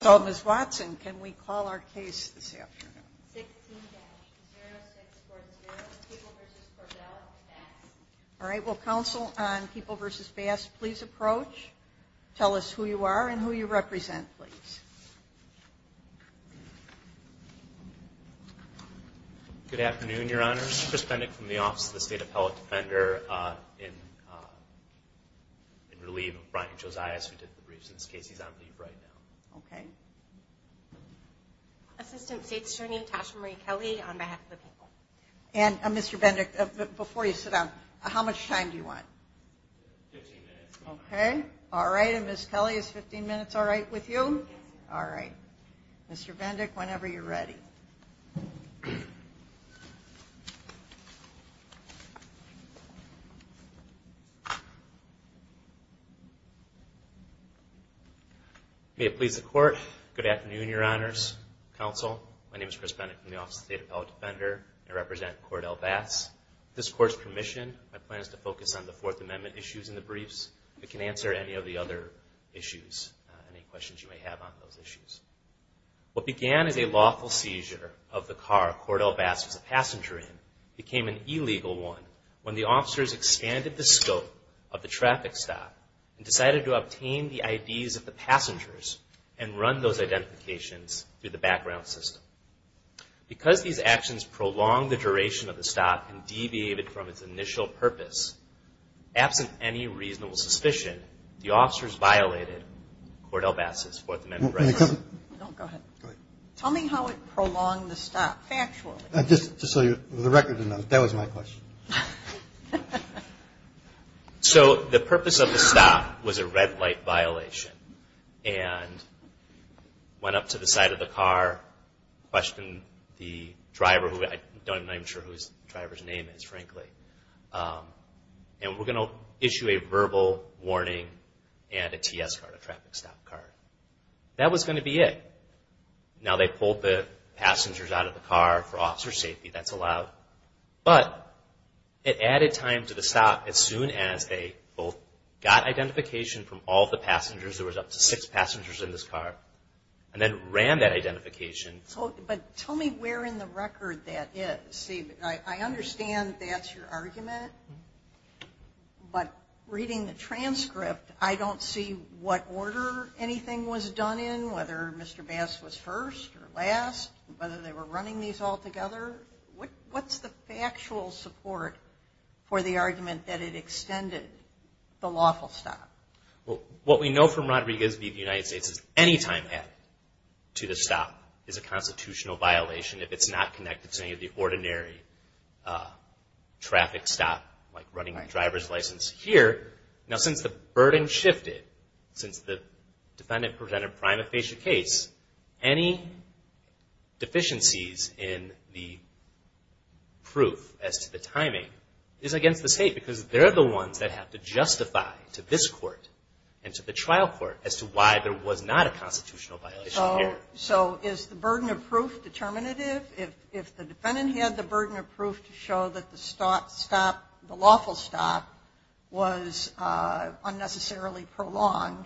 So, Ms. Watson, can we call our case this afternoon? 16-0640, People v. Cordell, Bass. All right, will Council on People v. Bass please approach? Tell us who you are and who you represent, please. Good afternoon, Your Honors. Chris Bendick from the Office of the State Appellate Defender in relief of Brian Josias, who did the briefs in this case. He's on leave right now. Okay. Assistant State Attorney Tasha Marie Kelly on behalf of the People. And Mr. Bendick, before you sit down, how much time do you want? 15 minutes. Okay. All right. And Ms. Kelly, is 15 minutes all right with you? Yes, ma'am. All right. Mr. Bendick, whenever you're ready. May it please the Court, good afternoon, Your Honors, Council. My name is Chris Bendick from the Office of the State Appellate Defender. I represent Cordell, Bass. With this Court's permission, my plan is to focus on the Fourth Amendment issues in the briefs. We can answer any of the other issues, any questions you may have on those issues. What began as a lawful seizure of the car Cordell, Bass was a passenger in, became an illegal one when the officers expanded the scope of the traffic stop and decided to obtain the IDs of the passengers and run those identifications through the background system. Because these actions prolonged the duration of the stop and deviated from its initial purpose, absent any reasonable suspicion, the officers violated Cordell, Bass' Fourth Amendment rights. Don't go ahead. Go ahead. Tell me how it prolonged the stop factually. Just so the record knows, that was my question. So the purpose of the stop was a red light violation and went up to the side of the car, questioned the driver, who I'm not even sure whose driver's name is, frankly. And we're going to issue a verbal warning and a TS card, a traffic stop card. That was going to be it. Now they pulled the passengers out of the car for officer safety. That's allowed. But it added time to the stop as soon as they both got identification from all of the But tell me where in the record that is. See, I understand that's your argument, but reading the transcript, I don't see what order anything was done in, whether Mr. Bass was first or last, whether they were running these all together. What's the factual support for the argument that it extended the lawful stop? Well, what we know from Rodriguez v. The United States is any time added to the stop is a constitutional violation if it's not connected to any of the ordinary traffic stop, like running a driver's license here. Now since the burden shifted, since the defendant presented a prima facie case, any deficiencies in the proof as to the timing is against the state because they're the ones that have to justify to this court and to the trial court as to why there was not a constitutional violation here. So is the burden of proof determinative? If the defendant had the burden of proof to show that the lawful stop was unnecessarily prolonged,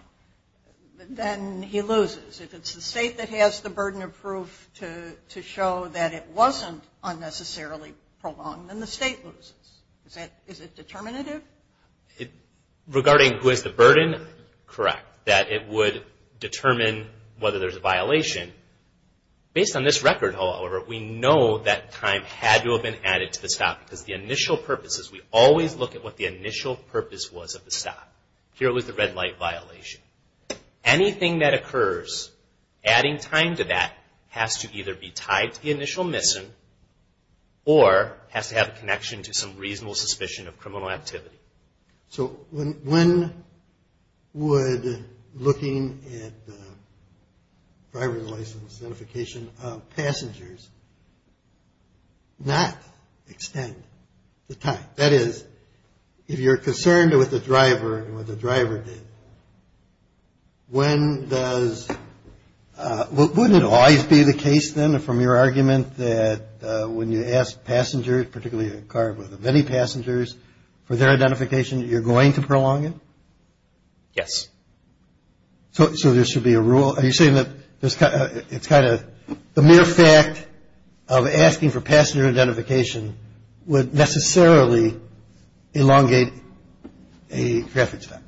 then he loses. If it's the state that has the burden of proof to show that it wasn't unnecessarily prolonged, then the state loses. Is it determinative? Regarding who has the burden, correct. That it would determine whether there's a violation. Based on this record, however, we know that time had to have been added to the stop because the initial purposes, we always look at what the initial purpose was of the stop. Here it was the red light violation. Anything that occurs adding time to that has to either be tied to the initial missing or has to have a connection to some reasonable suspicion of criminal activity. So when would looking at driver's license notification of passengers not extend the time? That is, if you're concerned with the driver and what the driver did, when does, wouldn't it always be the case then from your argument that when you ask passengers, particularly a car with many passengers, for their identification, you're going to prolong it? Yes. So there should be a rule? Are you saying that it's kind of, the mere fact of asking for passenger identification would necessarily elongate a traffic stop?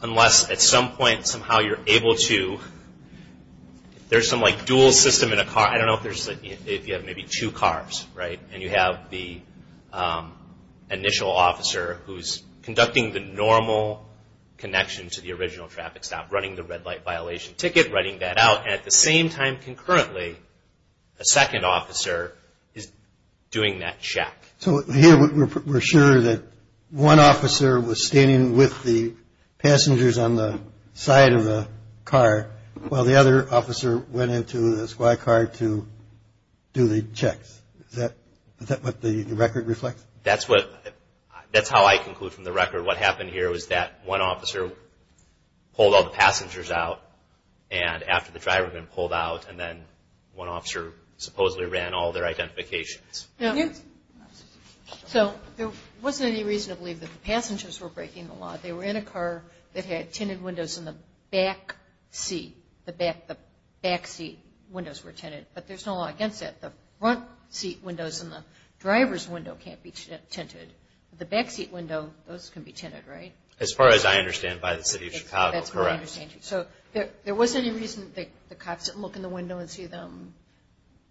Unless at some point, somehow you're able to, there's some like dual system in a car, I don't know if you have maybe two cars, right? And you have the initial officer who's conducting the normal connection to the original traffic stop, running the red light violation ticket, writing that out, and at the same time concurrently, a second officer is doing that check. So here we're sure that one officer was standing with the passengers on the side of the car while the other officer went into the squad car to do the checks. Is that what the record reflects? That's what, that's how I conclude from the record. What happened here was that one officer pulled all the passengers out and after the driver had been pulled out, and then one officer supposedly ran all their identifications. So there wasn't any reason to believe that the passengers were breaking the law. They were in a car that had tinted windows in the back seat. The back seat windows were tinted. But there's no law against that. The front seat windows and the driver's window can't be tinted. The back seat window, those can be tinted, right? As far as I understand by the City of Chicago, correct. You wouldn't see them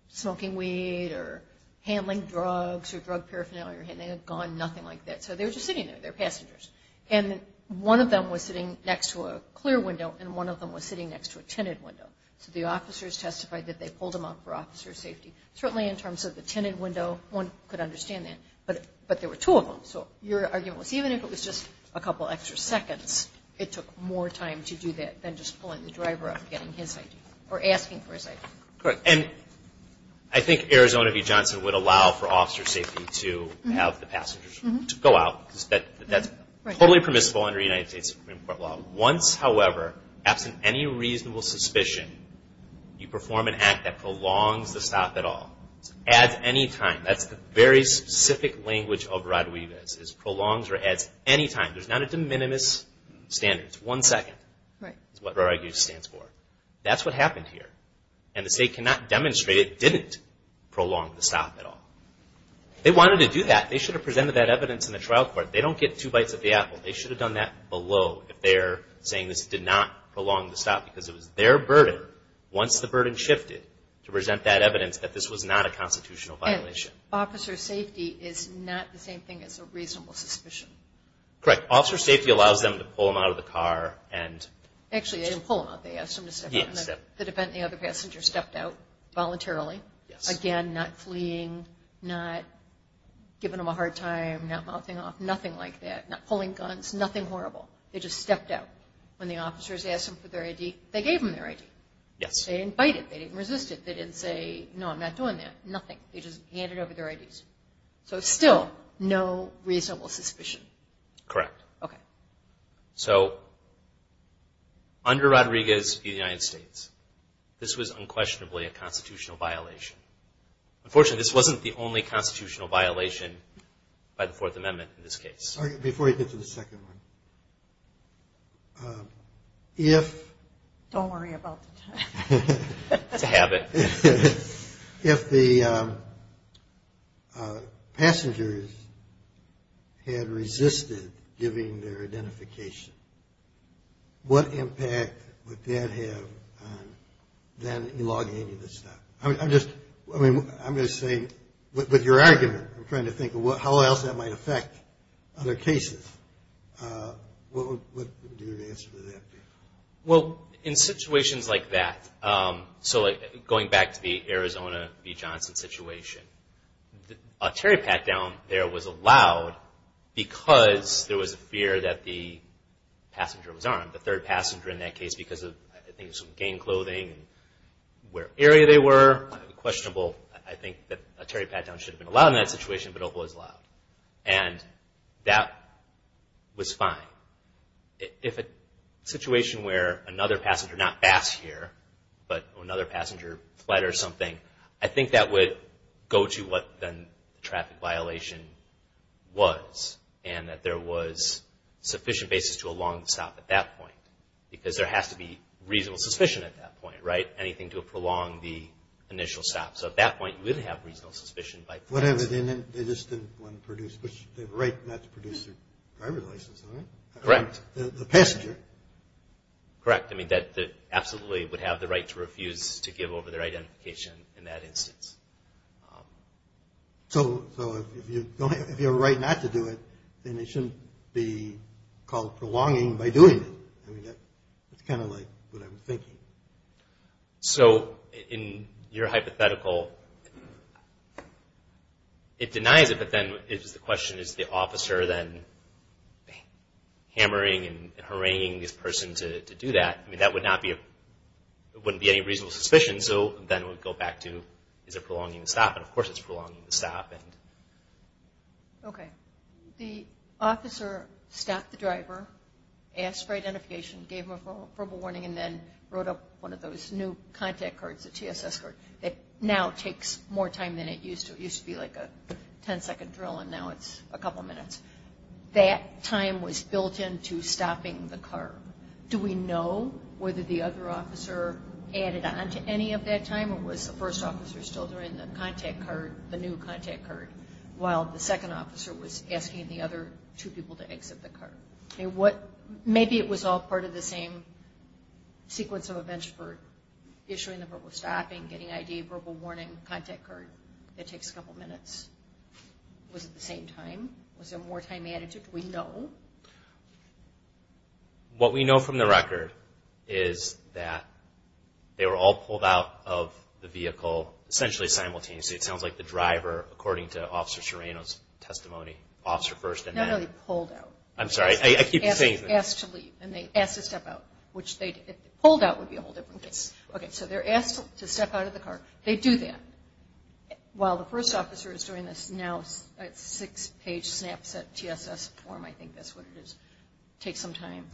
smoking weed or handling drugs or drug paraphernalia. They had gone nothing like that. So they were just sitting there. They were passengers. And one of them was sitting next to a clear window and one of them was sitting next to a tinted window. So the officers testified that they pulled them out for officer safety. Certainly in terms of the tinted window, one could understand that. But there were two of them. So your argument was even if it was just a couple extra seconds, it took more time to do that than just pulling the driver up and getting his ID or asking for his ID. Correct. And I think Arizona v. Johnson would allow for officer safety to have the passengers go out. That's totally permissible under United States Supreme Court law. Once, however, absent any reasonable suspicion, you perform an act that prolongs the stop at all. Adds any time. That's the very specific language of Rodriguez. It prolongs or adds any time. There's not a de minimis standard. It's one second. Right. That's what Rodriguez stands for. That's what happened here. And the state cannot demonstrate it didn't prolong the stop at all. They wanted to do that. They should have presented that evidence in the trial court. They don't get two bites of the apple. They should have done that below if they're saying this did not prolong the stop because it was their burden once the burden shifted to present that evidence that this was not a constitutional violation. And officer safety is not the same thing as a reasonable suspicion. Correct. Officer safety allows them to pull them out of the car and Actually, they didn't pull them out. They asked them to step out. The other passenger stepped out voluntarily. Again, not fleeing, not giving them a hard time, not mouthing off. Nothing like that. Not pulling guns. Nothing horrible. They just stepped out. When the officers asked them for their ID, they gave them their ID. They didn't bite it. They didn't resist it. They didn't say, no, I'm not doing that. Nothing. They just handed over their IDs. So still no reasonable suspicion. Correct. Okay. So under Rodriguez v. United States, this was unquestionably a constitutional violation. Unfortunately, this wasn't the only constitutional violation by the Fourth Amendment in this case. Before you get to the second one, if Don't worry about the time. It's a habit. If the passengers had resisted giving their identification, what impact would that have on then elongating the stop? I'm just saying, with your argument, I'm trying to think of how else that might affect other cases. What would your answer to that be? Well, in situations like that, so going back to the Arizona v. Johnson situation, a terry pat down there was allowed because there was a fear that the passenger was armed. The third passenger in that case, because of, I think, some gang clothing, where area they were, questionable. I think that a terry pat down should have been allowed in that situation, but it was allowed. And that was fine. If a situation where another passenger, not passed here, but another passenger fled or something, I think that would go to what then the traffic violation was. And that there was sufficient basis to elongate the stop at that point. Because there has to be reasonable suspicion at that point, right? Anything to prolong the initial stop. So at that point, you would have reasonable suspicion. Whatever, they just didn't want to produce, they have a right not to produce their driver's license, right? Correct. The passenger. Correct. I mean, they absolutely would have the right to refuse to give over their identification in that instance. So if you have a right not to do it, then it shouldn't be called prolonging by doing it. It's kind of like what I'm thinking. So in your hypothetical, it denies it, but then it's the question, is the officer then hammering and haranguing this person to do that? I mean, that wouldn't be any reasonable suspicion. So then we'd go back to, is it prolonging the stop? And of course it's prolonging the stop. Okay. The officer stopped the driver, asked for identification, gave him a verbal warning, and then wrote up one of those new contact cards, the TSS card, that now takes more time than it used to. It used to be like a ten-second drill, and now it's a couple minutes. That time was built into stopping the car. Do we know whether the other officer added on to any of that time, or was the first officer still doing the contact card, the new contact card, while the second officer was asking the other two people to exit the car? Okay. Maybe it was all part of the same sequence of events for issuing the verbal stopping, getting ID, verbal warning, contact card. It takes a couple minutes. Was it the same time? Was there more time added to it? Do we know? What we know from the record is that they were all pulled out of the vehicle essentially simultaneously. It sounds like the driver, according to Officer Serrano's testimony, officer first and then... Not really pulled out. I'm sorry. Asked to leave, and they asked to step out. Pulled out would be a whole different case. Okay, so they're asked to step out of the car. They do that. While the first officer is doing this now, six-page snapshot TSS form, I think that's what it is. Takes some time.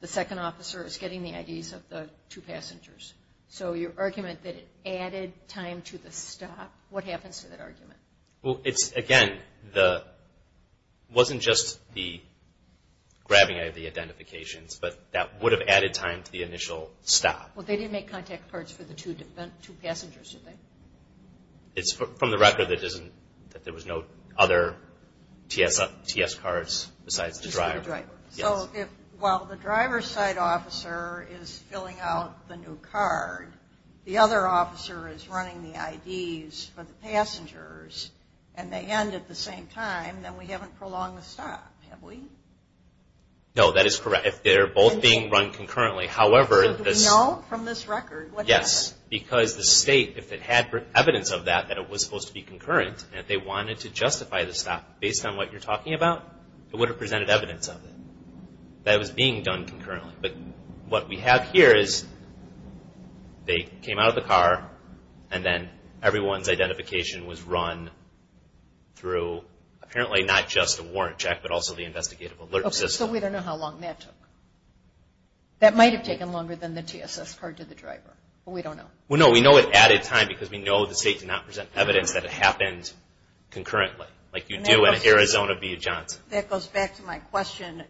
The second officer is getting the IDs of the two passengers. So your argument that it added time to the stop, what happens to that argument? Well, again, it wasn't just the grabbing of the identifications, but that would have added time to the initial stop. Well, they didn't make contact cards for the two passengers, did they? It's from the record that there was no other TSS cards besides the driver. Just for the driver. So while the driver's side officer is filling out the new card, the other officer is running the IDs for the passengers, and they end at the same time, then we haven't prolonged the stop, have we? No, that is correct. If they're both being run concurrently, however... So do we know from this record what happened? Yes, because the state, if it had evidence of that, that it was supposed to be concurrent, and if they wanted to justify the stop based on what you're talking about, it would have presented evidence of it, that it was being done concurrently. But what we have here is they came out of the car, and then everyone's identification was run through, apparently not just a warrant check, but also the investigative alert system. Okay, so we don't know how long that took. That might have taken longer than the TSS card to the driver, but we don't know. Well, no, we know it added time because we know the state did not present evidence that it happened concurrently, like you do in Arizona v. Johnson. That goes back to my question,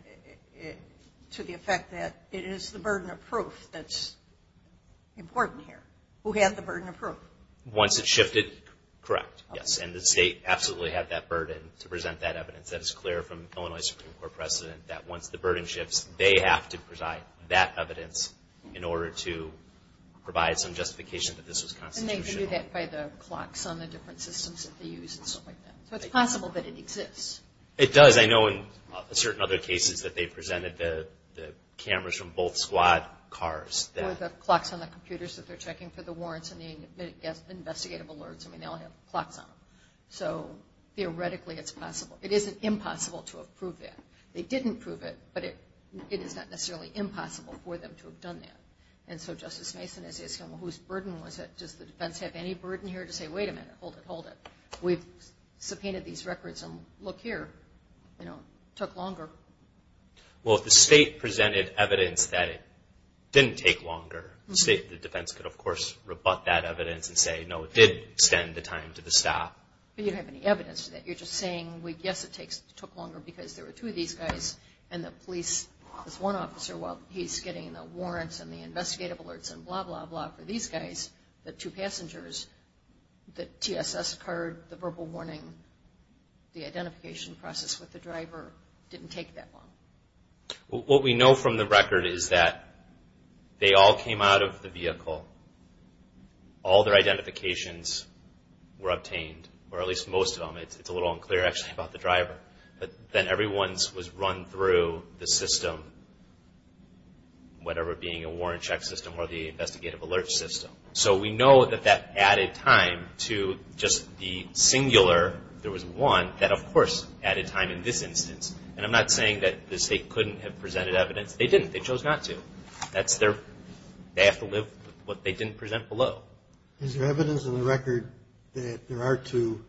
to the effect that it is the burden of proof that's important here. Who had the burden of proof? Once it shifted, correct, yes. And the state absolutely had that burden to present that evidence. That is clear from the Illinois Supreme Court precedent, that once the burden shifts, they have to provide that evidence in order to provide some justification that this was constitutional. And they can do that by the clocks on the different systems that they use and stuff like that. So it's possible that it exists. It does. I know in certain other cases that they presented the cameras from both squad cars. Or the clocks on the computers that they're checking for the warrants and the investigative alerts. I mean, they all have clocks on them. So theoretically, it's possible. It isn't impossible to have proved that. They didn't prove it, but it is not necessarily impossible for them to have done that. And so Justice Mason is asking, well, whose burden was it? Does the defense have any burden here to say, wait a minute, hold it, hold it? We've subpoenaed these records, and look here. You know, it took longer. Well, if the state presented evidence that it didn't take longer, the defense could, of course, rebut that evidence and say, no, it did extend the time to the staff. But you don't have any evidence to that. You're just saying, yes, it took longer because there were two of these guys, and the police, this one officer, while he's getting the warrants and the investigative alerts and blah, blah, blah for these guys, the two passengers, the TSS card, the verbal warning, the identification process with the driver didn't take that long. What we know from the record is that they all came out of the vehicle. All their identifications were obtained, or at least most of them. It's a little unclear, actually, about the driver. But then everyone was run through the system, whatever being a warrant check system or the investigative alert system. So we know that that added time to just the singular. There was one that, of course, added time in this instance. And I'm not saying that the state couldn't have presented evidence. They didn't. They chose not to. They have to live with what they didn't present below. Is there evidence in the record that there are two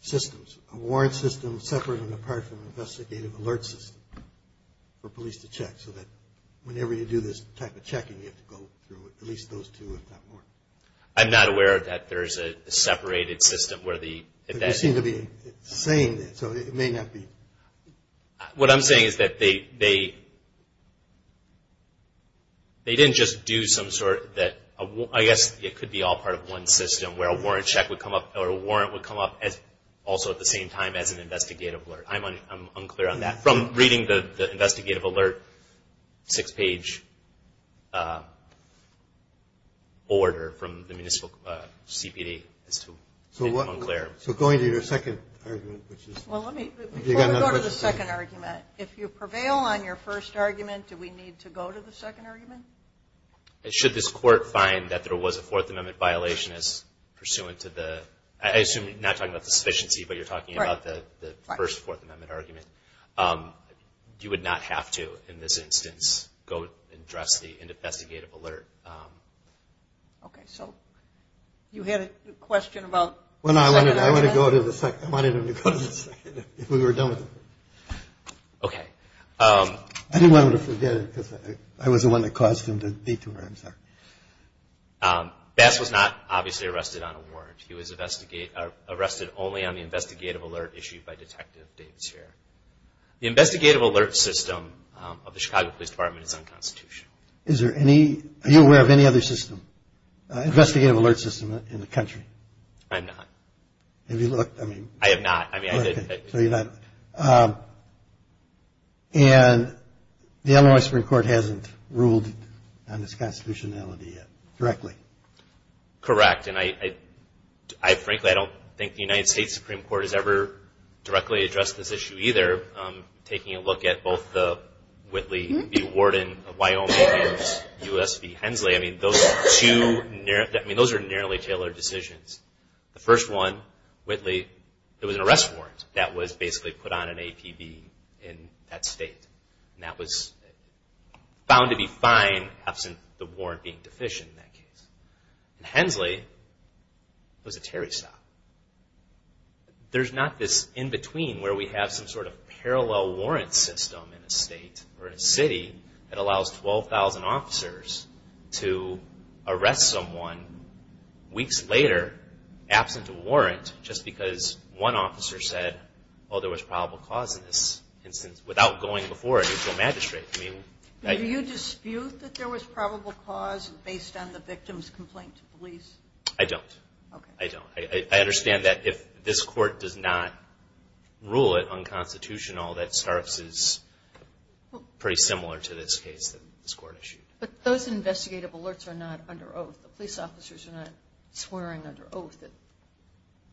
systems, a warrant system separate and apart from an investigative alert system for police to check so that whenever you do this type of checking, you have to go through at least those two, if not more? I'm not aware that there's a separated system where the... But you seem to be saying that. So it may not be... What I'm saying is that they didn't just do some sort of... I guess it could be all part of one system where a warrant check would come up or a warrant would come up also at the same time as an investigative alert. I'm unclear on that. From reading the investigative alert six-page order from the municipal CPD, it's too unclear. So going to your second argument, which is... Well, let me go to the second argument. If you prevail on your first argument, do we need to go to the second argument? Should this court find that there was a Fourth Amendment violation as pursuant to the... I assume you're not talking about the sufficiency, but you're talking about the first Fourth Amendment argument. You would not have to, in this instance, go address the investigative alert. Okay. So you had a question about... Well, no, I wanted him to go to the second if we were done with it. Okay. I didn't want him to forget it because I was the one that caused him to detour. I'm sorry. Bass was not obviously arrested on a warrant. He was arrested only on the investigative alert issued by Detective Davis here. The investigative alert system of the Chicago Police Department is unconstitutional. Are you aware of any other system, investigative alert system, in the country? I'm not. Have you looked? I have not. Okay, so you're not. And the Illinois Supreme Court hasn't ruled on its constitutionality yet directly. Correct. And, frankly, I don't think the United States Supreme Court has ever directly addressed this issue either. Taking a look at both the Whitley v. Warden of Wyoming and U.S. v. Hensley, I mean, those are two narrowly tailored decisions. The first one, Whitley, it was an arrest warrant that was basically put on an APB in that state. And that was found to be fine, absent the warrant being deficient in that case. In Hensley, it was a Terry stop. There's not this in between where we have some sort of parallel warrant system in a state or a city that allows 12,000 officers to arrest someone weeks later, absent a warrant, just because one officer said, well, there was probable cause in this instance, without going before a mutual magistrate. Do you dispute that there was probable cause based on the victim's complaint to police? I don't. I don't. I understand that if this court does not rule it unconstitutional, that starts as pretty similar to this case that this court issued. But those investigative alerts are not under oath. The police officers are not swearing under oath that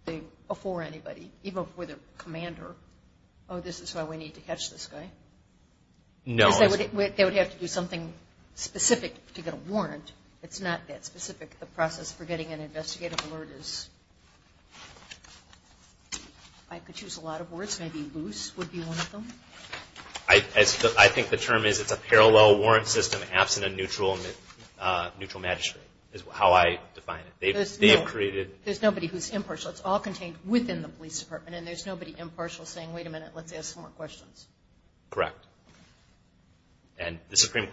they before anybody, even with a commander, oh, this is why we need to catch this guy. No. Because they would have to do something specific to get a warrant. It's not that specific. The process for getting an investigative alert is, if I could choose a lot of words, maybe loose would be one of them. I think the term is it's a parallel warrant system, absent a neutral magistrate, is how I define it. There's nobody who's impartial. So it's all contained within the police department, and there's nobody impartial saying, wait a minute, let's ask some more questions. Correct. Do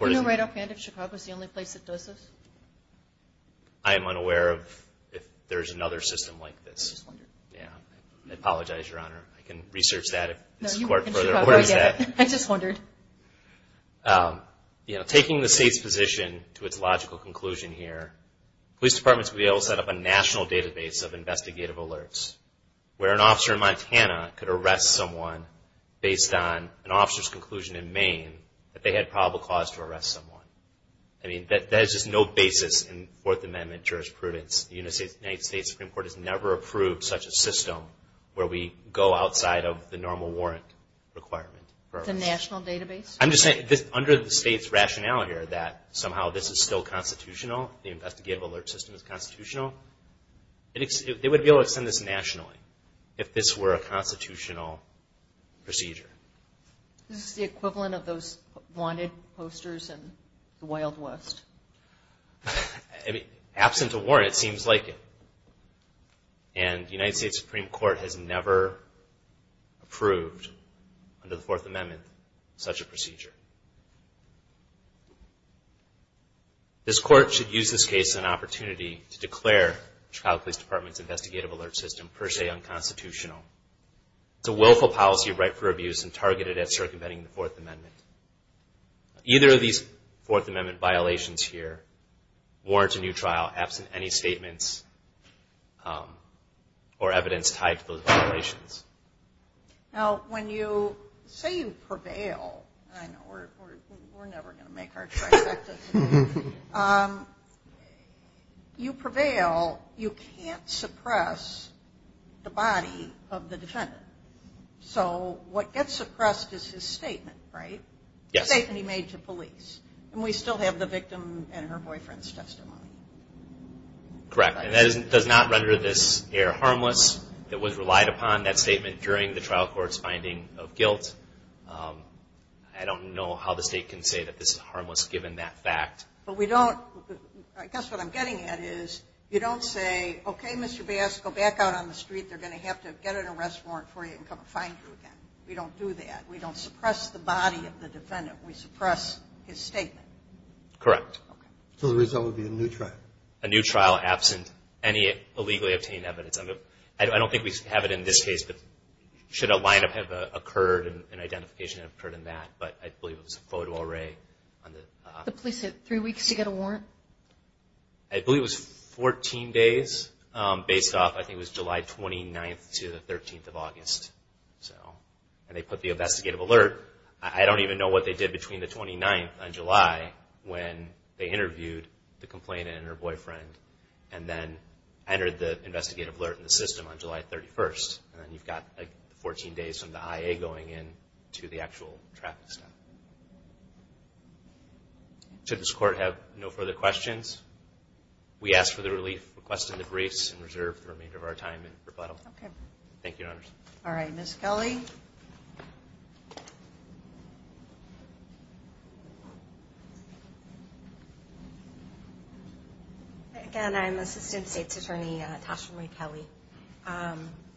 you know right offhand if Chicago is the only place that does this? I am unaware of if there is another system like this. I just wondered. I apologize, Your Honor. I can research that if this court is aware of that. I just wondered. Taking the state's position to its logical conclusion here, police departments would be able to set up a national database of investigative alerts where an officer in Montana could arrest someone based on an officer's conclusion in Maine that they had probable cause to arrest someone. I mean, there's just no basis in Fourth Amendment jurisprudence. The United States Supreme Court has never approved such a system where we go outside of the normal warrant requirement. The national database? I'm just saying under the state's rationale here that somehow this is still constitutional, the investigative alert system is constitutional, they would be able to extend this nationally if this were a constitutional procedure. Is this the equivalent of those wanted posters in the Wild West? Absent a warrant, it seems like it. And the United States Supreme Court has never approved under the Fourth Amendment such a procedure. This court should use this case as an opportunity to declare the Chicago Police Department's investigative alert system per se unconstitutional. It's a willful policy of right for abuse and targeted at circumventing the Fourth Amendment. Either of these Fourth Amendment violations here warrant a new trial absent any statements or evidence tied to those violations. Now, when you say you prevail, I know we're never going to make our trip back to Chicago, you prevail, you can't suppress the body of the defendant. So what gets suppressed is his statement, right? The statement he made to police. And we still have the victim and her boyfriend's testimony. Correct. And that does not render this error harmless. It was relied upon, that statement, during the trial court's finding of guilt. I don't know how the state can say that this is harmless given that fact. But we don't – I guess what I'm getting at is you don't say, okay, Mr. Bass, go back out on the street. They're going to have to get an arrest warrant for you and come find you again. We don't do that. We don't suppress the body of the defendant. We suppress his statement. Correct. So the result would be a new trial. A new trial absent any illegally obtained evidence. I don't think we have it in this case, but should a lineup have occurred and identification have occurred in that. But I believe it was a photo array. The police had three weeks to get a warrant? I believe it was 14 days based off, I think it was July 29th to the 13th of August. And they put the investigative alert. I don't even know what they did between the 29th and July when they interviewed the complainant and her boyfriend and then entered the investigative alert in the system on July 31st. And then you've got 14 days from the IA going in to the actual traffic stop. Does this Court have no further questions? We ask for the relief requested in the briefs and reserve the remainder of our time in rebuttal. Okay. Thank you, Your Honors. All right. Ms. Kelly? Again, I'm Assistant State's Attorney Tasha Marie Kelly.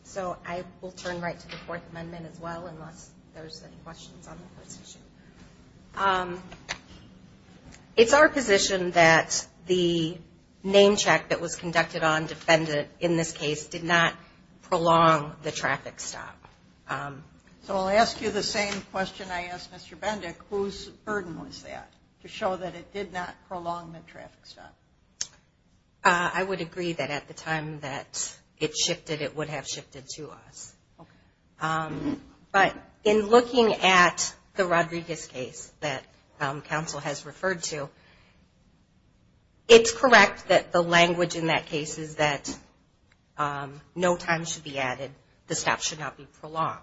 So I will turn right to the Fourth Amendment as well unless there's any questions on the court's issue. It's our position that the name check that was conducted on defendant in this case did not prolong the traffic stop. So I'll ask you the same question I asked Mr. Bendick. Whose burden was that to show that it did not prolong the traffic stop? I would agree that at the time that it shifted, it would have shifted to us. Okay. But in looking at the Rodriguez case that counsel has referred to, it's correct that the language in that case is that no time should be added, the stop should not be prolonged.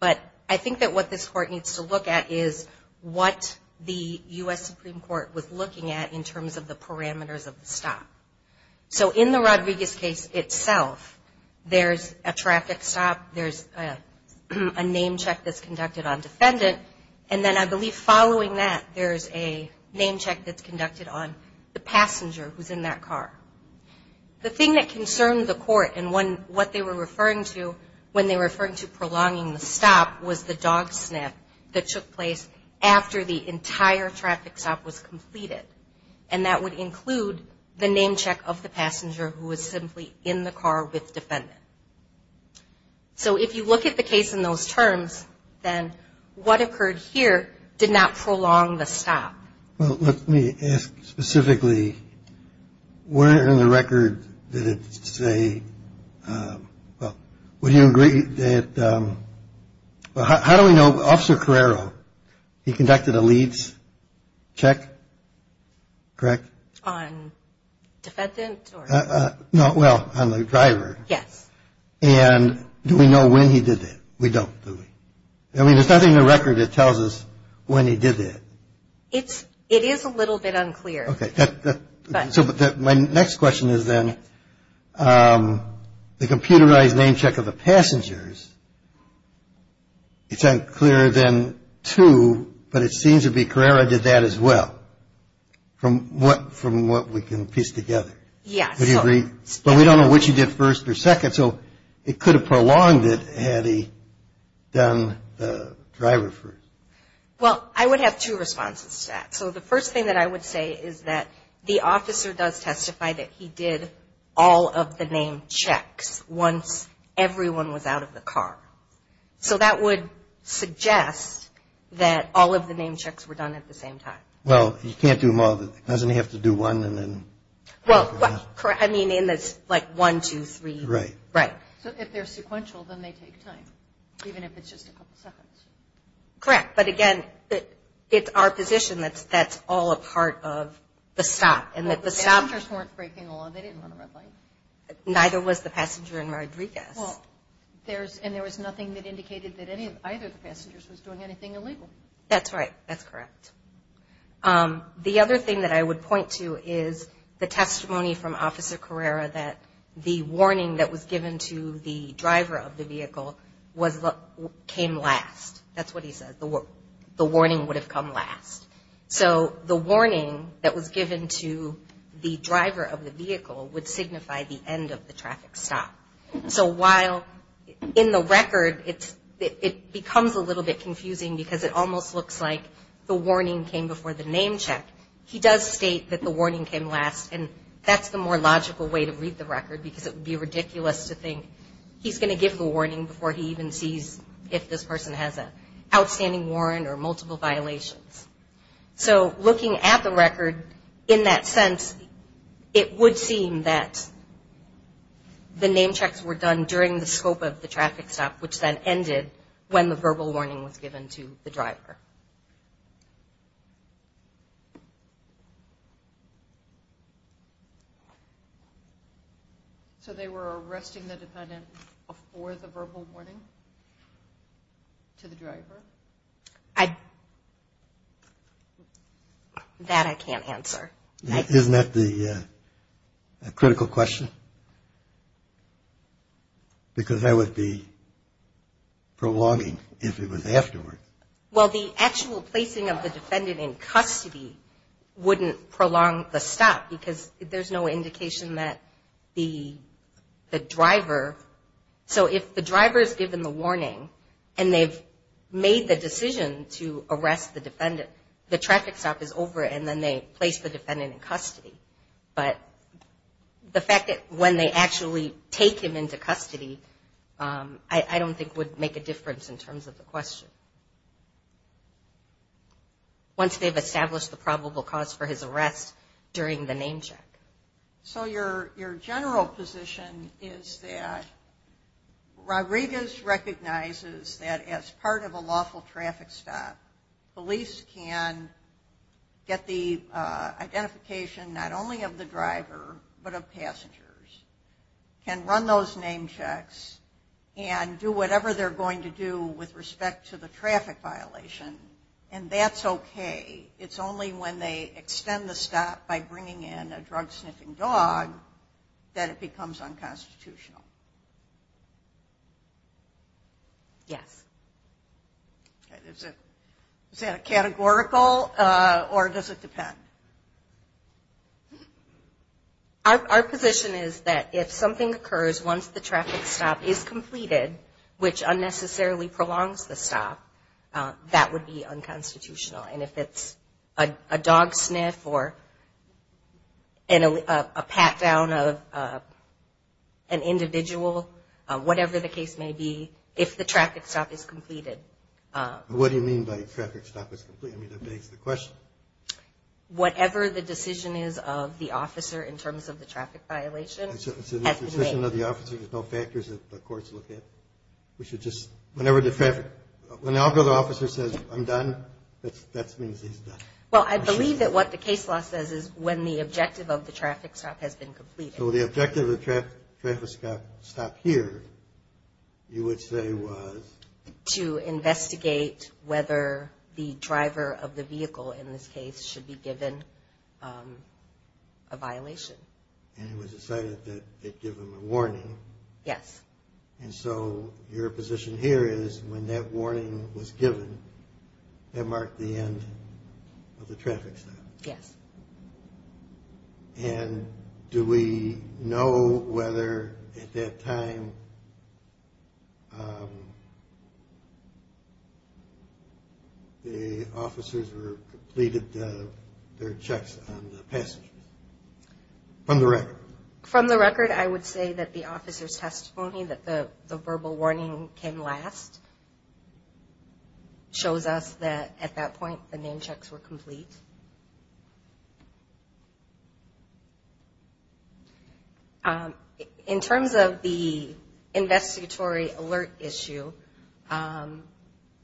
But I think that what this Court needs to look at is what the U.S. Supreme Court was looking at in terms of the parameters of the stop. So in the Rodriguez case itself, there's a traffic stop, there's a name check that's conducted on defendant, and then I believe following that, there's a name check that's conducted on the passenger who's in that car. The thing that concerned the court in what they were referring to when they were referring to prolonging the stop was the dog snap that took place after the entire traffic stop was completed. And that would include the name check of the passenger who was simply in the car with defendant. So if you look at the case in those terms, then what occurred here did not prolong the stop. Well, let me ask specifically, where in the record did it say, well, would you agree that, well, how do we know? Officer Carrero, he conducted a leads check, correct? On defendant? No, well, on the driver. Yes. And do we know when he did that? We don't, do we? I mean, there's nothing in the record that tells us when he did that. It is a little bit unclear. Okay. So my next question is then, the computerized name check of the passengers, it's unclear then too, but it seems to be Carrero did that as well from what we can piece together. Yes. But we don't know what you did first or second, so it could have prolonged it had he done the driver first. Well, I would have two responses to that. So the first thing that I would say is that the officer does testify that he did all of the name checks once everyone was out of the car. So that would suggest that all of the name checks were done at the same time. Well, you can't do them all. Doesn't he have to do one and then? Well, I mean in this like one, two, three. Right. Right. So if they're sequential, then they take time, even if it's just a couple seconds. Correct. But, again, it's our position that that's all a part of the stop. Well, the passengers weren't breaking the law. They didn't run a red light. Neither was the passenger in Rodriguez. Well, and there was nothing that indicated that either of the passengers was doing anything illegal. That's right. That's correct. The other thing that I would point to is the testimony from Officer Carrera that the warning that was given to the driver of the vehicle came last. That's what he said. The warning would have come last. So the warning that was given to the driver of the vehicle would signify the end of the traffic stop. So while in the record it becomes a little bit confusing because it almost looks like the warning came before the name check, he does state that the warning came last, and that's the more logical way to read the record because it would be ridiculous to think he's going to give the warning before he even sees if this person has an outstanding warrant or multiple violations. So looking at the record in that sense, it would seem that the name checks were done during the scope of the traffic stop, which then ended when the verbal warning was given to the driver. So they were arresting the defendant before the verbal warning to the driver? That I can't answer. Isn't that the critical question? Because that would be prolonging if it was afterward. Well, the actual placing of the defendant in custody wouldn't prolong the stop because there's no indication that the traffic stop is over and then they place the defendant in custody. But the fact that when they actually take him into custody, I don't think would make a difference in terms of the question. Once they've established the probable cause for his arrest during the name check. So your general position is that Rodriguez recognizes that as part of a lawful traffic stop, police can get the identification not only of the driver, but of passengers. Can run those name checks and do whatever they're going to do with respect to the traffic violation, and that's okay. It's only when they extend the stop by bringing in a drug sniffing dog that it becomes unconstitutional. Yes. Is that a categorical or does it depend? Our position is that if something occurs once the traffic stop is completed, which unnecessarily prolongs the stop, that would be unconstitutional. And if it's a dog sniff or a pat down of an individual, whatever the case may be, if the traffic stop is completed. What do you mean by traffic stop is completed? I mean, that begs the question. Whatever the decision is of the officer in terms of the traffic violation. So the decision of the officer, there's no factors that the courts look at? Whenever the officer says, I'm done, that means he's done. Well, I believe that what the case law says is when the objective of the traffic stop has been completed. So the objective of the traffic stop here you would say was? To investigate whether the driver of the vehicle in this case should be given a violation. And it was decided that they'd give him a warning. Yes. And so your position here is when that warning was given, that marked the end of the traffic stop? Yes. And do we know whether at that time the officers completed their checks on the passengers from the record? From the record, I would say that the officer's testimony, that the verbal warning came last, shows us that at that point the name checks were complete. In terms of the investigatory alert issue,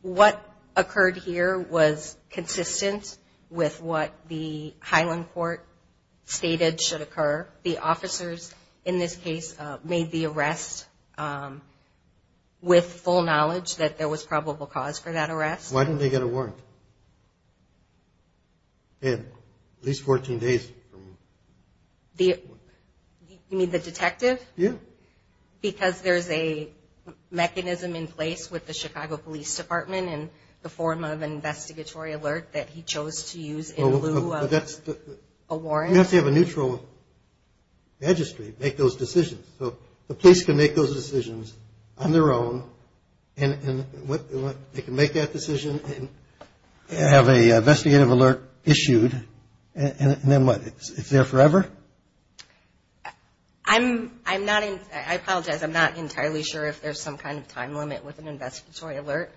what occurred here was consistent with what the Highland court stated should occur. The officers in this case made the arrest with full knowledge that there was probable cause for that arrest. Why didn't they get a warrant? They had at least 14 days. You mean the detective? Yes. Because there's a mechanism in place with the Chicago Police Department in the form of an investigatory alert that he chose to use in lieu of a warrant. You have to have a neutral registry to make those decisions. So the police can make those decisions on their own, and they can make that decision and have an investigative alert issued, and then what? It's there forever? I apologize. I'm not entirely sure if there's some kind of time limit with an investigatory alert.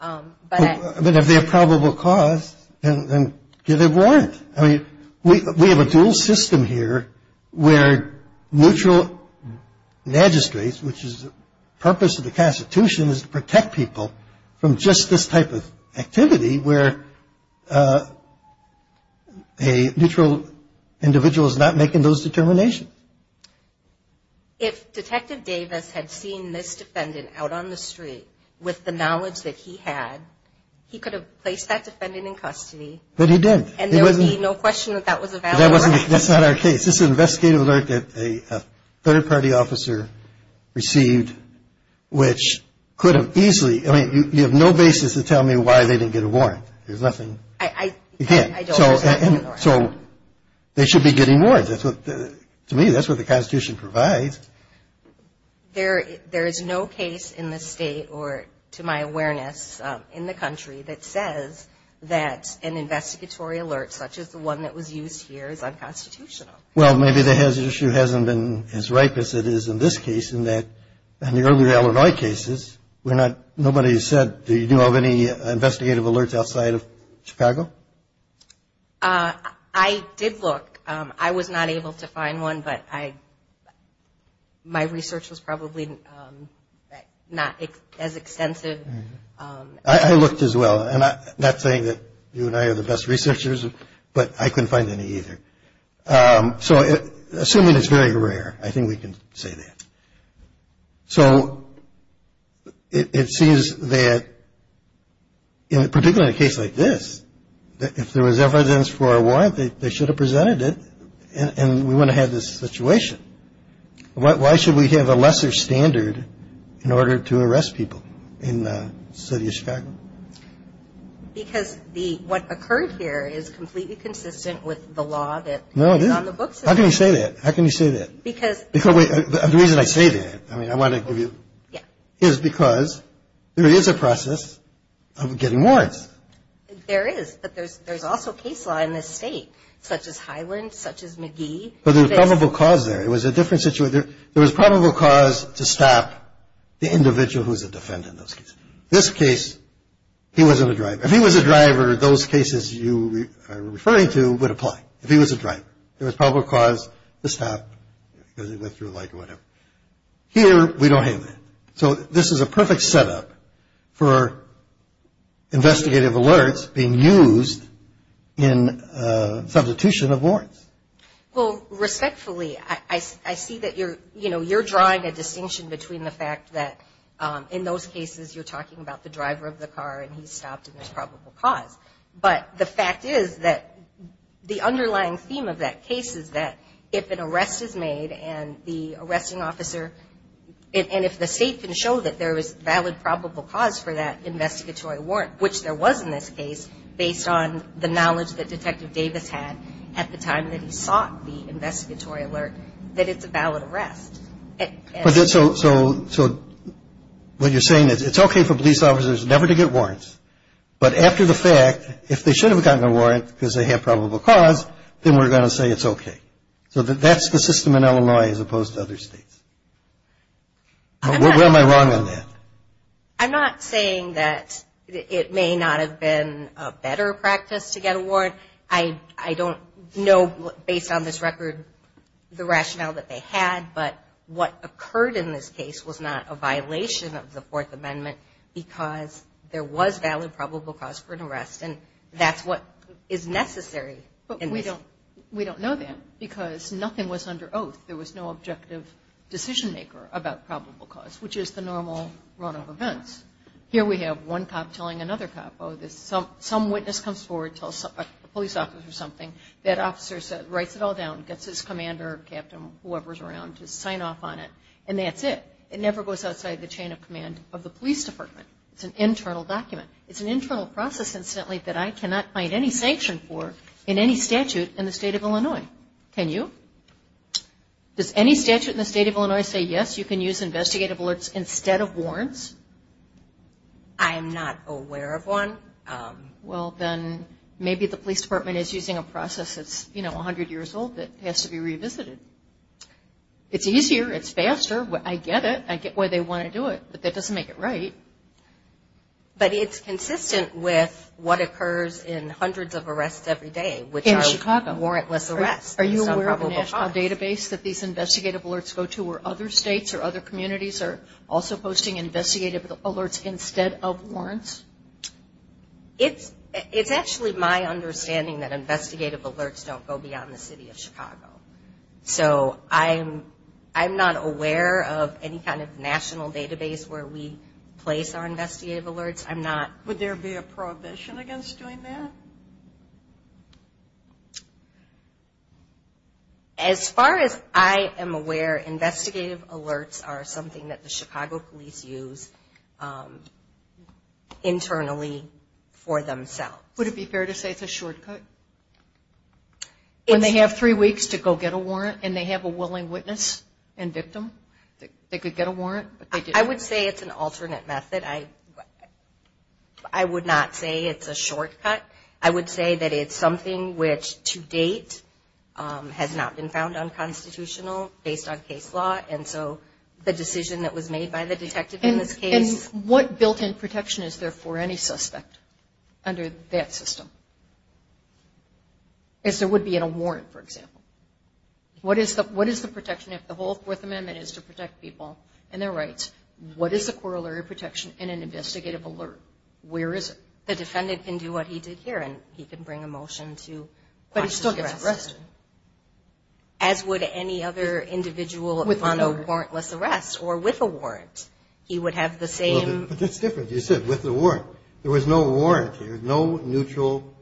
But if they have probable cause, then get a warrant. I mean, we have a dual system here where neutral magistrates, which is the purpose of the Constitution is to protect people from just this type of activity where a neutral individual is not making those determinations. If Detective Davis had seen this defendant out on the street with the knowledge that he had, he could have placed that defendant in custody. But he didn't. And there would be no question that that was a valid warrant. That's not our case. This is an investigative alert that a third-party officer received, which could have easily – I mean, you have no basis to tell me why they didn't get a warrant. There's nothing – you can't. So they should be getting warrants. To me, that's what the Constitution provides. There is no case in this State, or to my awareness, in the country, that says that an investigatory alert such as the one that was used here is unconstitutional. Well, maybe the hazard issue hasn't been as ripe as it is in this case in that in the earlier Illinois cases, nobody said, do you have any investigative alerts outside of Chicago? I did look. I was not able to find one, but my research was probably not as extensive. I looked as well. I'm not saying that you and I are the best researchers, but I couldn't find any either. So assuming it's very rare, I think we can say that. So it seems that, particularly in a case like this, if there was evidence for a warrant, they should have presented it, and we wouldn't have had this situation. Why should we have a lesser standard in order to arrest people in the City of Chicago? Because what occurred here is completely consistent with the law that is on the books. No, it is. How can you say that? How can you say that? Because – The reason I say that – I mean, I want to give you – Yeah. Is because there is a process of getting warrants. There is. But there's also case law in this state, such as Highland, such as McGee. But there's probable cause there. It was a different situation. There was probable cause to stop the individual who was a defendant in those cases. In this case, he wasn't a driver. If he was a driver, those cases you are referring to would apply. If he was a driver, there was probable cause to stop because he went through light or whatever. Here, we don't have that. So this is a perfect setup for investigative alerts being used in substitution of warrants. Well, respectfully, I see that you're drawing a distinction between the fact that in those cases, you're talking about the driver of the car and he stopped and there's probable cause. But the fact is that the underlying theme of that case is that if an arrest is made and the arresting officer and if the state can show that there is valid probable cause for that investigatory warrant, which there was in this case, based on the knowledge that Detective Davis had at the time that he sought the investigatory alert, that it's a valid arrest. So what you're saying is it's okay for police officers never to get warrants, but after the fact, if they should have gotten a warrant because they have probable cause, then we're going to say it's okay. So that's the system in Illinois as opposed to other states. Where am I wrong on that? I'm not saying that it may not have been a better practice to get a warrant. I don't know, based on this record, the rationale that they had, but what occurred in this case was not a violation of the Fourth Amendment because there was valid probable cause for an arrest, and that's what is necessary. But we don't know that because nothing was under oath. There was no objective decision-maker about probable cause, which is the normal runoff events. Here we have one cop telling another cop, oh, some witness comes forward, tells a police officer something, that officer writes it all down, gets his commander, captain, whoever's around to sign off on it, and that's it. It never goes outside the chain of command of the police department. It's an internal document. It's an internal process, incidentally, that I cannot find any sanction for in any statute in the state of Illinois. Can you? Does any statute in the state of Illinois say, yes, you can use investigative alerts instead of warrants? I am not aware of one. Well, then maybe the police department is using a process that's, you know, 100 years old that has to be revisited. It's easier. It's faster. I get it. I get why they want to do it, but that doesn't make it right. But it's consistent with what occurs in hundreds of arrests every day. In Chicago. Warrantless arrests. Are you aware of a national database that these investigative alerts go to where other states or other communities are also posting investigative alerts instead of warrants? It's actually my understanding that investigative alerts don't go beyond the city of Chicago. So I'm not aware of any kind of national database where we place our investigative alerts. Would there be a prohibition against doing that? As far as I am aware, investigative alerts are something that the Chicago police use internally for themselves. Would it be fair to say it's a shortcut? When they have three weeks to go get a warrant and they have a willing witness and victim, they could get a warrant. I would say it's an alternate method. I would not say it's a shortcut. I would say that it's something which to date has not been found unconstitutional based on case law. And so the decision that was made by the detective in this case. And what built-in protection is there for any suspect under that system? As there would be in a warrant, for example. What is the protection if the whole Fourth Amendment is to protect people and their rights? What is the corollary protection in an investigative alert? Where is it? The defendant can do what he did here and he can bring a motion to watch the arrest. But he still gets arrested. As would any other individual on a warrantless arrest or with a warrant. He would have the same. But that's different. You said with a warrant. There was no warrant here. No neutral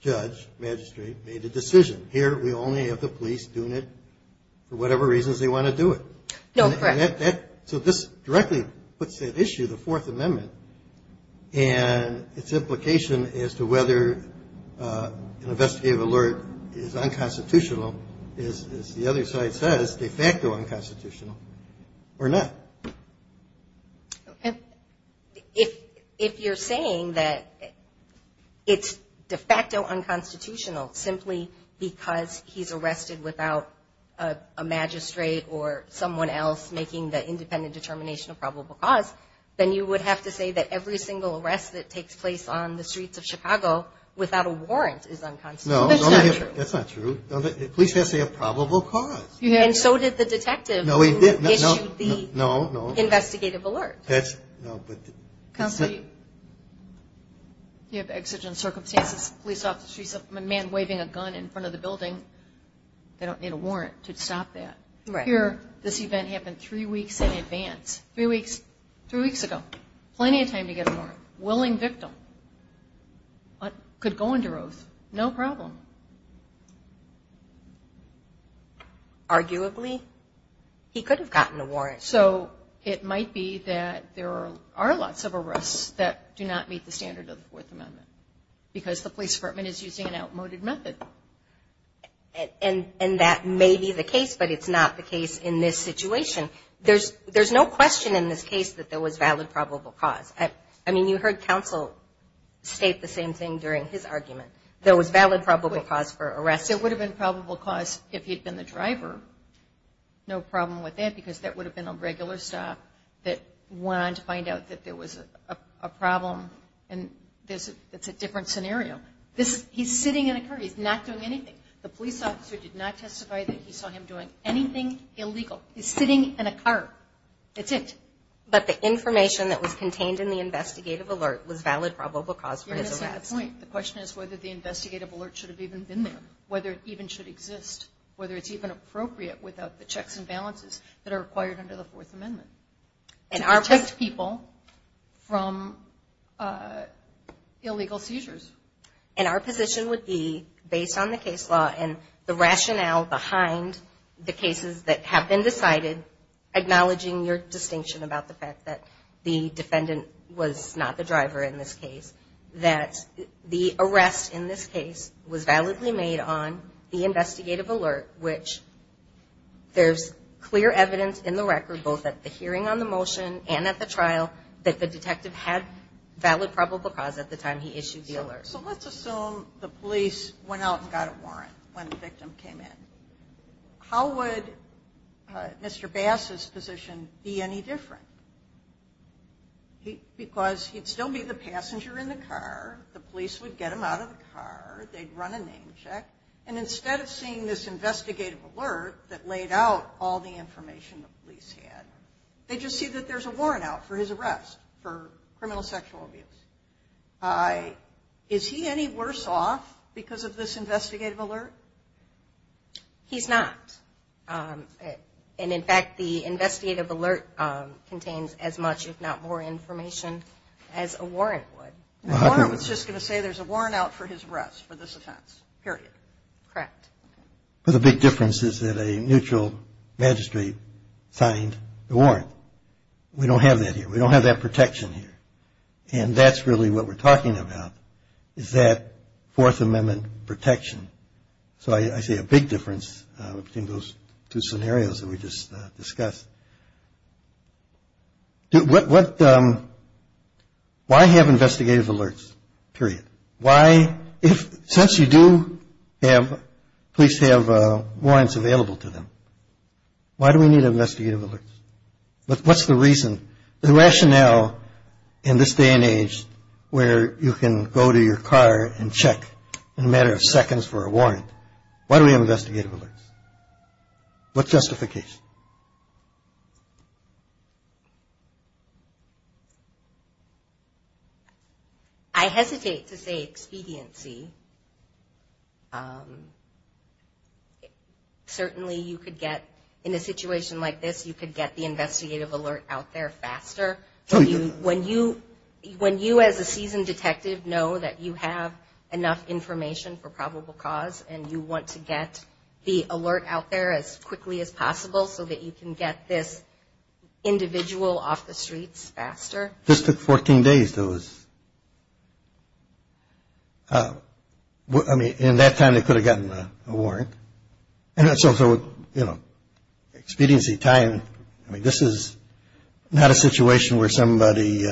judge, magistrate made a decision. Here we only have the police doing it for whatever reasons they want to do it. No, correct. So this directly puts at issue the Fourth Amendment and its implication as to whether an investigative alert is unconstitutional, as the other side says, de facto unconstitutional or not. If you're saying that it's de facto unconstitutional simply because he's arrested without a magistrate or someone else making the independent determination of probable cause, then you would have to say that every single arrest that takes place on the streets of Chicago without a warrant is unconstitutional. That's not true. Police have to say a probable cause. And so did the detective who issued the investigative alert. Counselor, you have exigent circumstances. A man waving a gun in front of the building, they don't need a warrant to stop that. Here this event happened three weeks in advance, three weeks ago. Plenty of time to get a warrant. Willing victim could go under oath, no problem. Arguably, he could have gotten a warrant. So it might be that there are lots of arrests that do not meet the standard of the Fourth Amendment because the police department is using an outmoded method. And that may be the case, but it's not the case in this situation. There's no question in this case that there was valid probable cause. I mean, you heard counsel state the same thing during his argument. There was valid probable cause for arrest. It would have been probable cause if he had been the driver. No problem with that because that would have been a regular stop that went on to find out that there was a problem and it's a different scenario. He's sitting in a car. He's not doing anything. The police officer did not testify that he saw him doing anything illegal. He's sitting in a car. That's it. But the information that was contained in the investigative alert was valid probable cause for his arrest. The question is whether the investigative alert should have even been there, whether it even should exist, whether it's even appropriate without the checks and balances that are required under the Fourth Amendment to protect people from illegal seizures. And our position would be, based on the case law and the rationale behind the cases that have been decided, acknowledging your distinction about the fact that the defendant was not the driver in this case, that the arrest in this case was validly made on the investigative alert, which there's clear evidence in the record both at the hearing on the motion and at the trial that the detective had valid probable cause at the time he issued the alert. So let's assume the police went out and got a warrant when the victim came in. How would Mr. Bass's position be any different? Because he'd still be the passenger in the car. The police would get him out of the car. They'd run a name check. And instead of seeing this investigative alert that laid out all the information the police had, they just see that there's a warrant out for his arrest for criminal sexual abuse. Is he any worse off because of this investigative alert? He's not. And, in fact, the investigative alert contains as much, if not more, information as a warrant would. The warrant was just going to say there's a warrant out for his arrest for this offense, period. Correct. But the big difference is that a neutral magistrate signed the warrant. We don't have that here. We don't have that protection here. And that's really what we're talking about is that Fourth Amendment protection. So I see a big difference between those two scenarios that we just discussed. Why have investigative alerts, period? Since you do have police have warrants available to them, why do we need investigative alerts? What's the reason? There's a rationale in this day and age where you can go to your car and check in a matter of seconds for a warrant. Why do we have investigative alerts? What's justification? I hesitate to say expediency. Certainly you could get in a situation like this, you could get the investigative alert out there faster. When you, as a seasoned detective, know that you have enough information for probable cause and you want to get the alert out there as quickly as possible so that you can get this individual off the streets faster. This took 14 days. I mean, in that time they could have gotten a warrant. And so, you know, expediency time, I mean, this is not a situation where somebody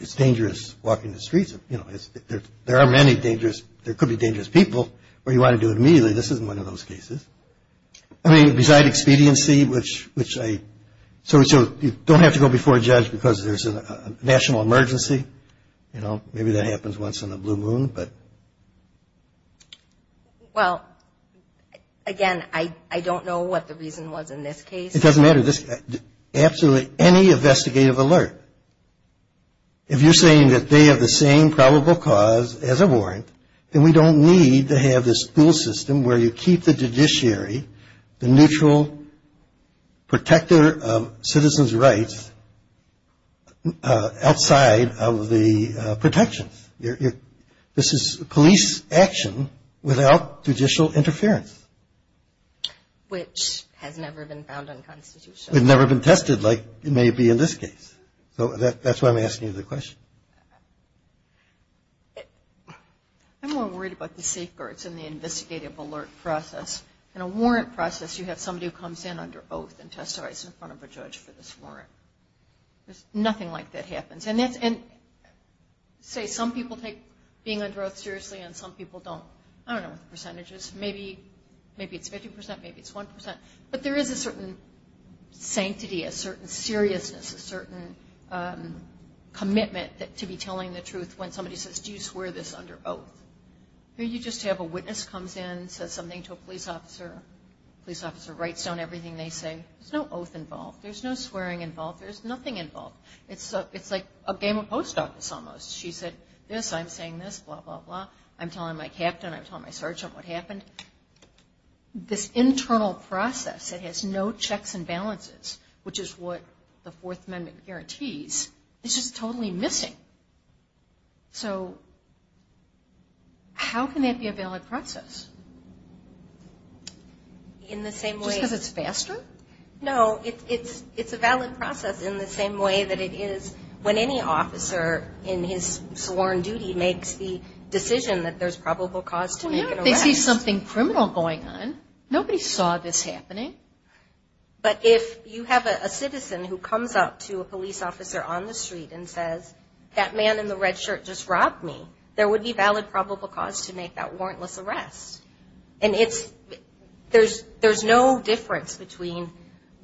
is dangerous walking the streets. You know, there are many dangerous, there could be dangerous people where you want to do it immediately. This isn't one of those cases. I mean, beside expediency, which I, so you don't have to go before a judge because there's a national emergency, you know, maybe that happens once in a blue moon, but. Well, again, I don't know what the reason was in this case. It doesn't matter. Absolutely any investigative alert, if you're saying that they have the same probable cause as a warrant, then we don't need to have this school system where you keep the judiciary, the neutral protector of citizens' rights outside of the protections. This is police action without judicial interference. Which has never been found in the Constitution. It's never been tested like it may be in this case. So that's why I'm asking you the question. I'm more worried about the safeguards in the investigative alert process. In a warrant process, you have somebody who comes in under oath and testifies in front of a judge for this warrant. Nothing like that happens. And say some people take being under oath seriously and some people don't. I don't know what the percentage is. Maybe it's 50%, maybe it's 1%. But there is a certain sanctity, a certain seriousness, a certain commitment to be telling the truth when somebody says, do you swear this under oath? Maybe you just have a witness comes in, says something to a police officer. The police officer writes down everything they say. There's no oath involved. There's no swearing involved. There's nothing involved. It's like a game of post office almost. She said this, I'm saying this, blah, blah, blah. I'm telling my captain, I'm telling my sergeant what happened. This internal process that has no checks and balances, which is what the Fourth Amendment guarantees, is just totally missing. So how can that be a valid process? Just because it's faster? No, it's a valid process in the same way that it is when any officer in his sworn duty makes the decision that there's probable cause to make an arrest. But if they see something criminal going on, nobody saw this happening. But if you have a citizen who comes up to a police officer on the street and says, that man in the red shirt just robbed me, there would be valid probable cause to make that warrantless arrest. And there's no difference between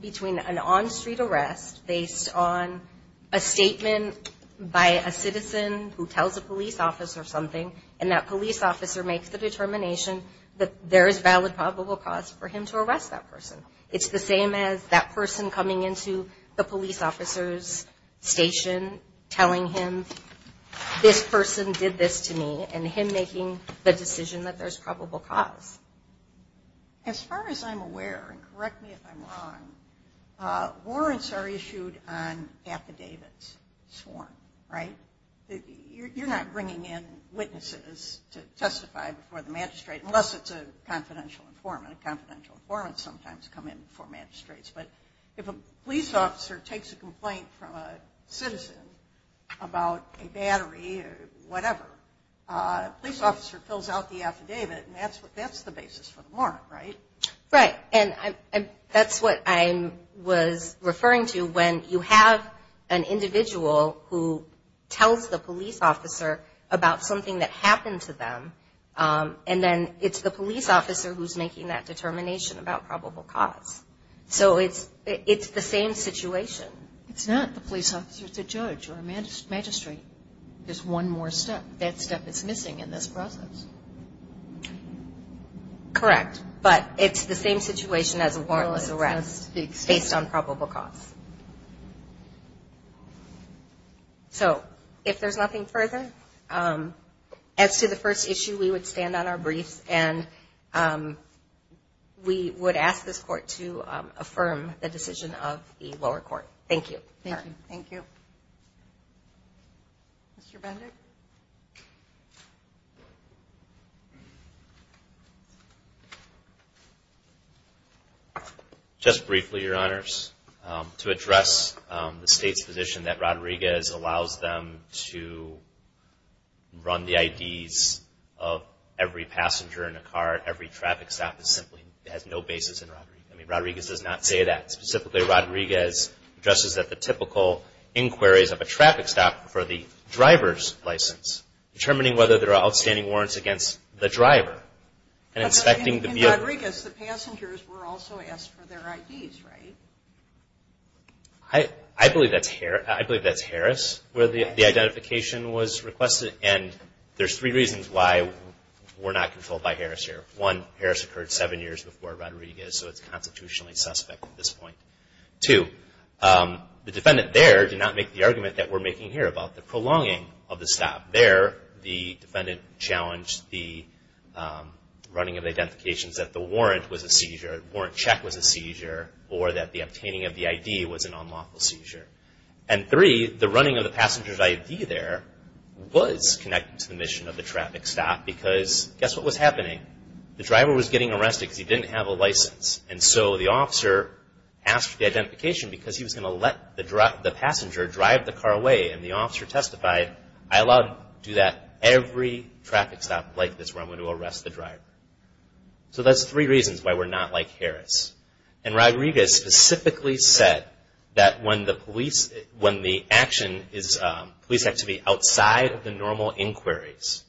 an on-street arrest based on a statement by a citizen who tells a police officer something, and that police officer makes the determination that there is valid probable cause for him to arrest that person. It's the same as that person coming into the police officer's station telling him, this person did this to me, and him making the decision that there's probable cause. As far as I'm aware, and correct me if I'm wrong, warrants are issued on affidavits sworn. Right? You're not bringing in witnesses to testify before the magistrate, unless it's a confidential informant. Confidential informants sometimes come in before magistrates. But if a police officer takes a complaint from a citizen about a battery or whatever, a police officer fills out the affidavit, and that's the basis for the warrant, right? Right. And that's what I was referring to when you have an individual who tells the police officer about something that happened to them, and then it's the police officer who's making that determination about probable cause. So it's the same situation. It's not the police officer. It's a judge or a magistrate. There's one more step. That step is missing in this process. Correct. But it's the same situation as a warrantless arrest based on probable cause. So if there's nothing further, as to the first issue, we would stand on our briefs, and we would ask this court to affirm the decision of the lower court. Thank you. Thank you. Mr. Bendick? Just briefly, Your Honors. To address the State's position that Rodriguez allows them to run the IDs of every passenger in a car, every traffic stop, it simply has no basis in Rodriguez. I mean, Rodriguez does not say that. Specifically, Rodriguez addresses that the typical inquiries of a traffic stop for the driver's license, determining whether there are outstanding warrants against the driver, and inspecting the vehicle. In Rodriguez, the passengers were also asked for their IDs, right? I believe that's Harris where the identification was requested, and there's three reasons why we're not controlled by Harris here. One, Harris occurred seven years before Rodriguez, so it's constitutionally suspect at this point. Two, the defendant there did not make the argument that we're making here about the prolonging of the stop. There, the defendant challenged the running of the identifications that the warrant was a seizure, warrant check was a seizure, or that the obtaining of the ID was an unlawful seizure. And three, the running of the passenger's ID there was connected to the mission of the traffic stop, because guess what was happening? The driver was getting arrested because he didn't have a license, and so the officer asked for the identification because he was going to let the passenger drive the car away, and the officer testified, I allowed him to do that every traffic stop like this where I'm going to arrest the driver. So that's three reasons why we're not like Harris. And Rodriguez specifically said that when the police, when the action is, police have to be outside of the normal inquiries.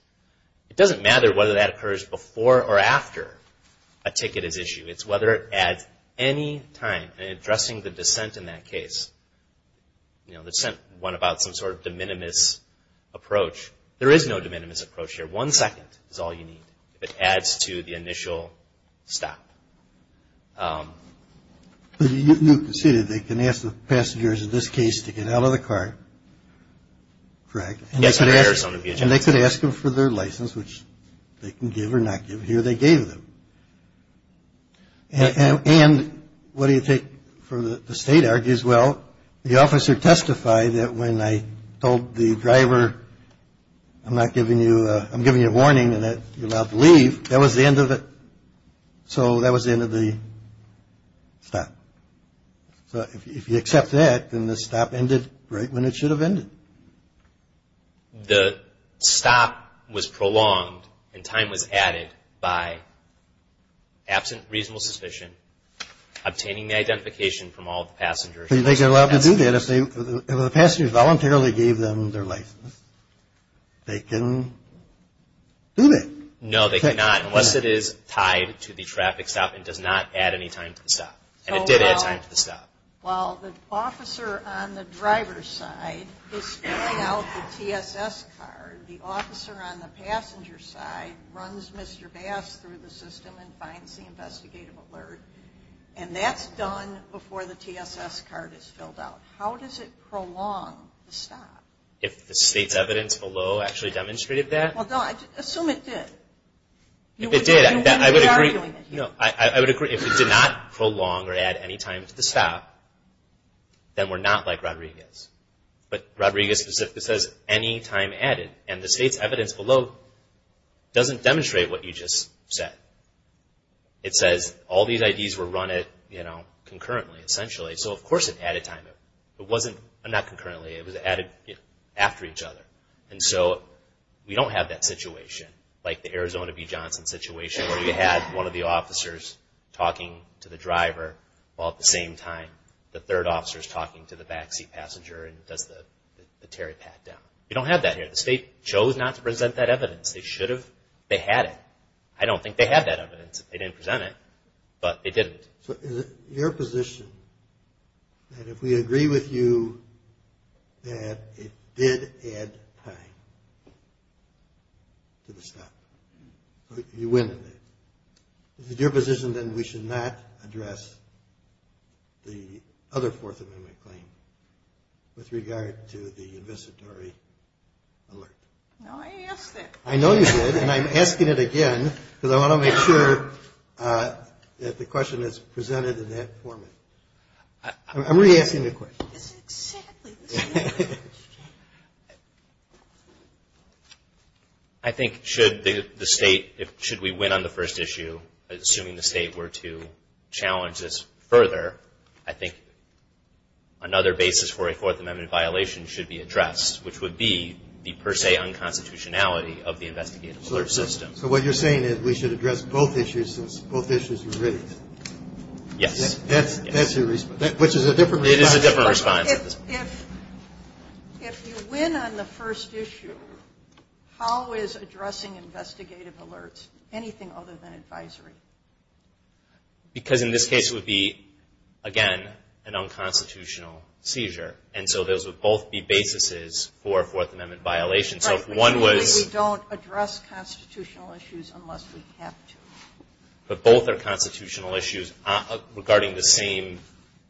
It doesn't matter whether that occurs before or after a ticket is issued. It's whether at any time, and addressing the dissent in that case, you know, the dissent went about some sort of de minimis approach. There is no de minimis approach here. One second is all you need if it adds to the initial stop. But you conceded they can ask the passengers in this case to get out of the car, correct? Yes. And they could ask them for their license, which they can give or not give. Here they gave them. And what do you think the state argues? Well, the officer testified that when I told the driver I'm not giving you, I'm giving you a warning and that you're allowed to leave, that was the end of it. So that was the end of the stop. So if you accept that, then the stop ended right when it should have ended. The stop was prolonged and time was added by, absent reasonable suspicion, obtaining the identification from all the passengers. So you think they're allowed to do that if the passengers voluntarily gave them their license? They can do that. No, they cannot, unless it is tied to the traffic stop and does not add any time to the stop. And it did add time to the stop. Well, the officer on the driver's side is filling out the TSS card. The officer on the passenger's side runs Mr. Bass through the system and finds the investigative alert. And that's done before the TSS card is filled out. How does it prolong the stop? If the state's evidence below actually demonstrated that? Assume it did. If it did, I would agree. If it did not prolong or add any time to the stop, then we're not like Rodriguez. But Rodriguez specifically says any time added. And the state's evidence below doesn't demonstrate what you just said. It says all these IDs were run concurrently, essentially. So of course it added time. It wasn't concurrently, it was added after each other. And so we don't have that situation, like the Arizona v. Johnson situation where you had one of the officers talking to the driver, while at the same time the third officer is talking to the backseat passenger and does the tear it back down. You don't have that here. The state chose not to present that evidence. They should have. They had it. I don't think they had that evidence. They didn't present it, but they did it. So is it your position that if we agree with you that it did add time to the stop? You win. Is it your position that we should not address the other Fourth Amendment claim with regard to the investitory alert? No, I asked it. I know you did, and I'm asking it again, because I want to make sure that the question is presented in that format. I'm re-asking the question. Exactly. I think should the state, should we win on the first issue, assuming the state were to challenge this further, I think another basis for a Fourth Amendment violation should be addressed, which would be the per se unconstitutionality of the investigative alert system. So what you're saying is we should address both issues since both issues were raised. Yes. That's your response, which is a different response. If you win on the first issue, how is addressing investigative alerts, anything other than advisory? Because in this case it would be, again, an unconstitutional seizure, and so those would both be basis for a Fourth Amendment violation. Right. So if one was... We don't address constitutional issues unless we have to. But both are constitutional issues regarding the same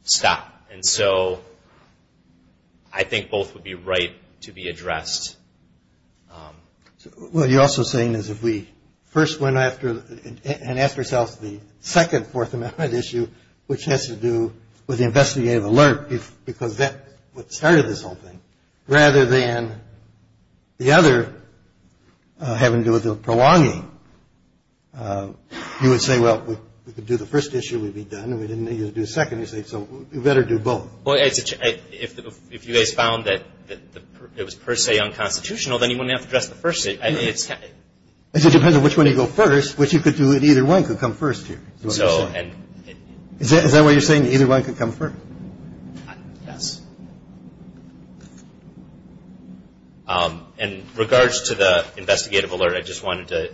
stop. And so I think both would be right to be addressed. What you're also saying is if we first went after and asked ourselves the second Fourth Amendment issue, which has to do with the investigative alert, because that's what started this whole thing, rather than the other having to do with the prolonging, you would say, well, we could do the first issue, we'd be done, and we didn't need to do the second. So you better do both. Well, if you guys found that it was per se unconstitutional, then you wouldn't have to address the first issue. It depends on which one you go first, which you could do, and either one could come first here. Is that what you're saying, that either one could come first? Yes. In regards to the investigative alert, I just wanted to...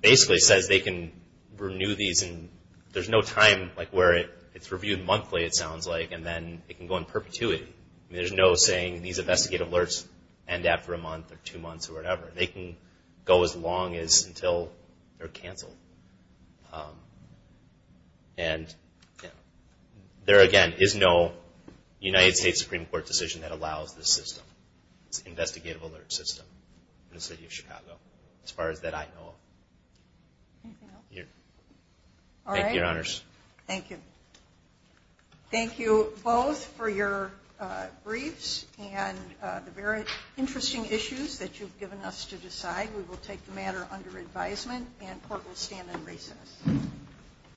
basically says they can renew these. And there's no time where it's reviewed monthly, it sounds like, and then it can go in perpetuity. There's no saying these investigative alerts end after a month or two months or whatever. They can go as long as until they're canceled. And there, again, is no United States Supreme Court decision that allows this system, this investigative alert system in the city of Chicago, as far as that I know of. Anything else? Thank you, Your Honors. Thank you. Thank you both for your briefs and the very interesting issues that you've given us to decide. We will take the matter under advisement, and the Court will stand in recess.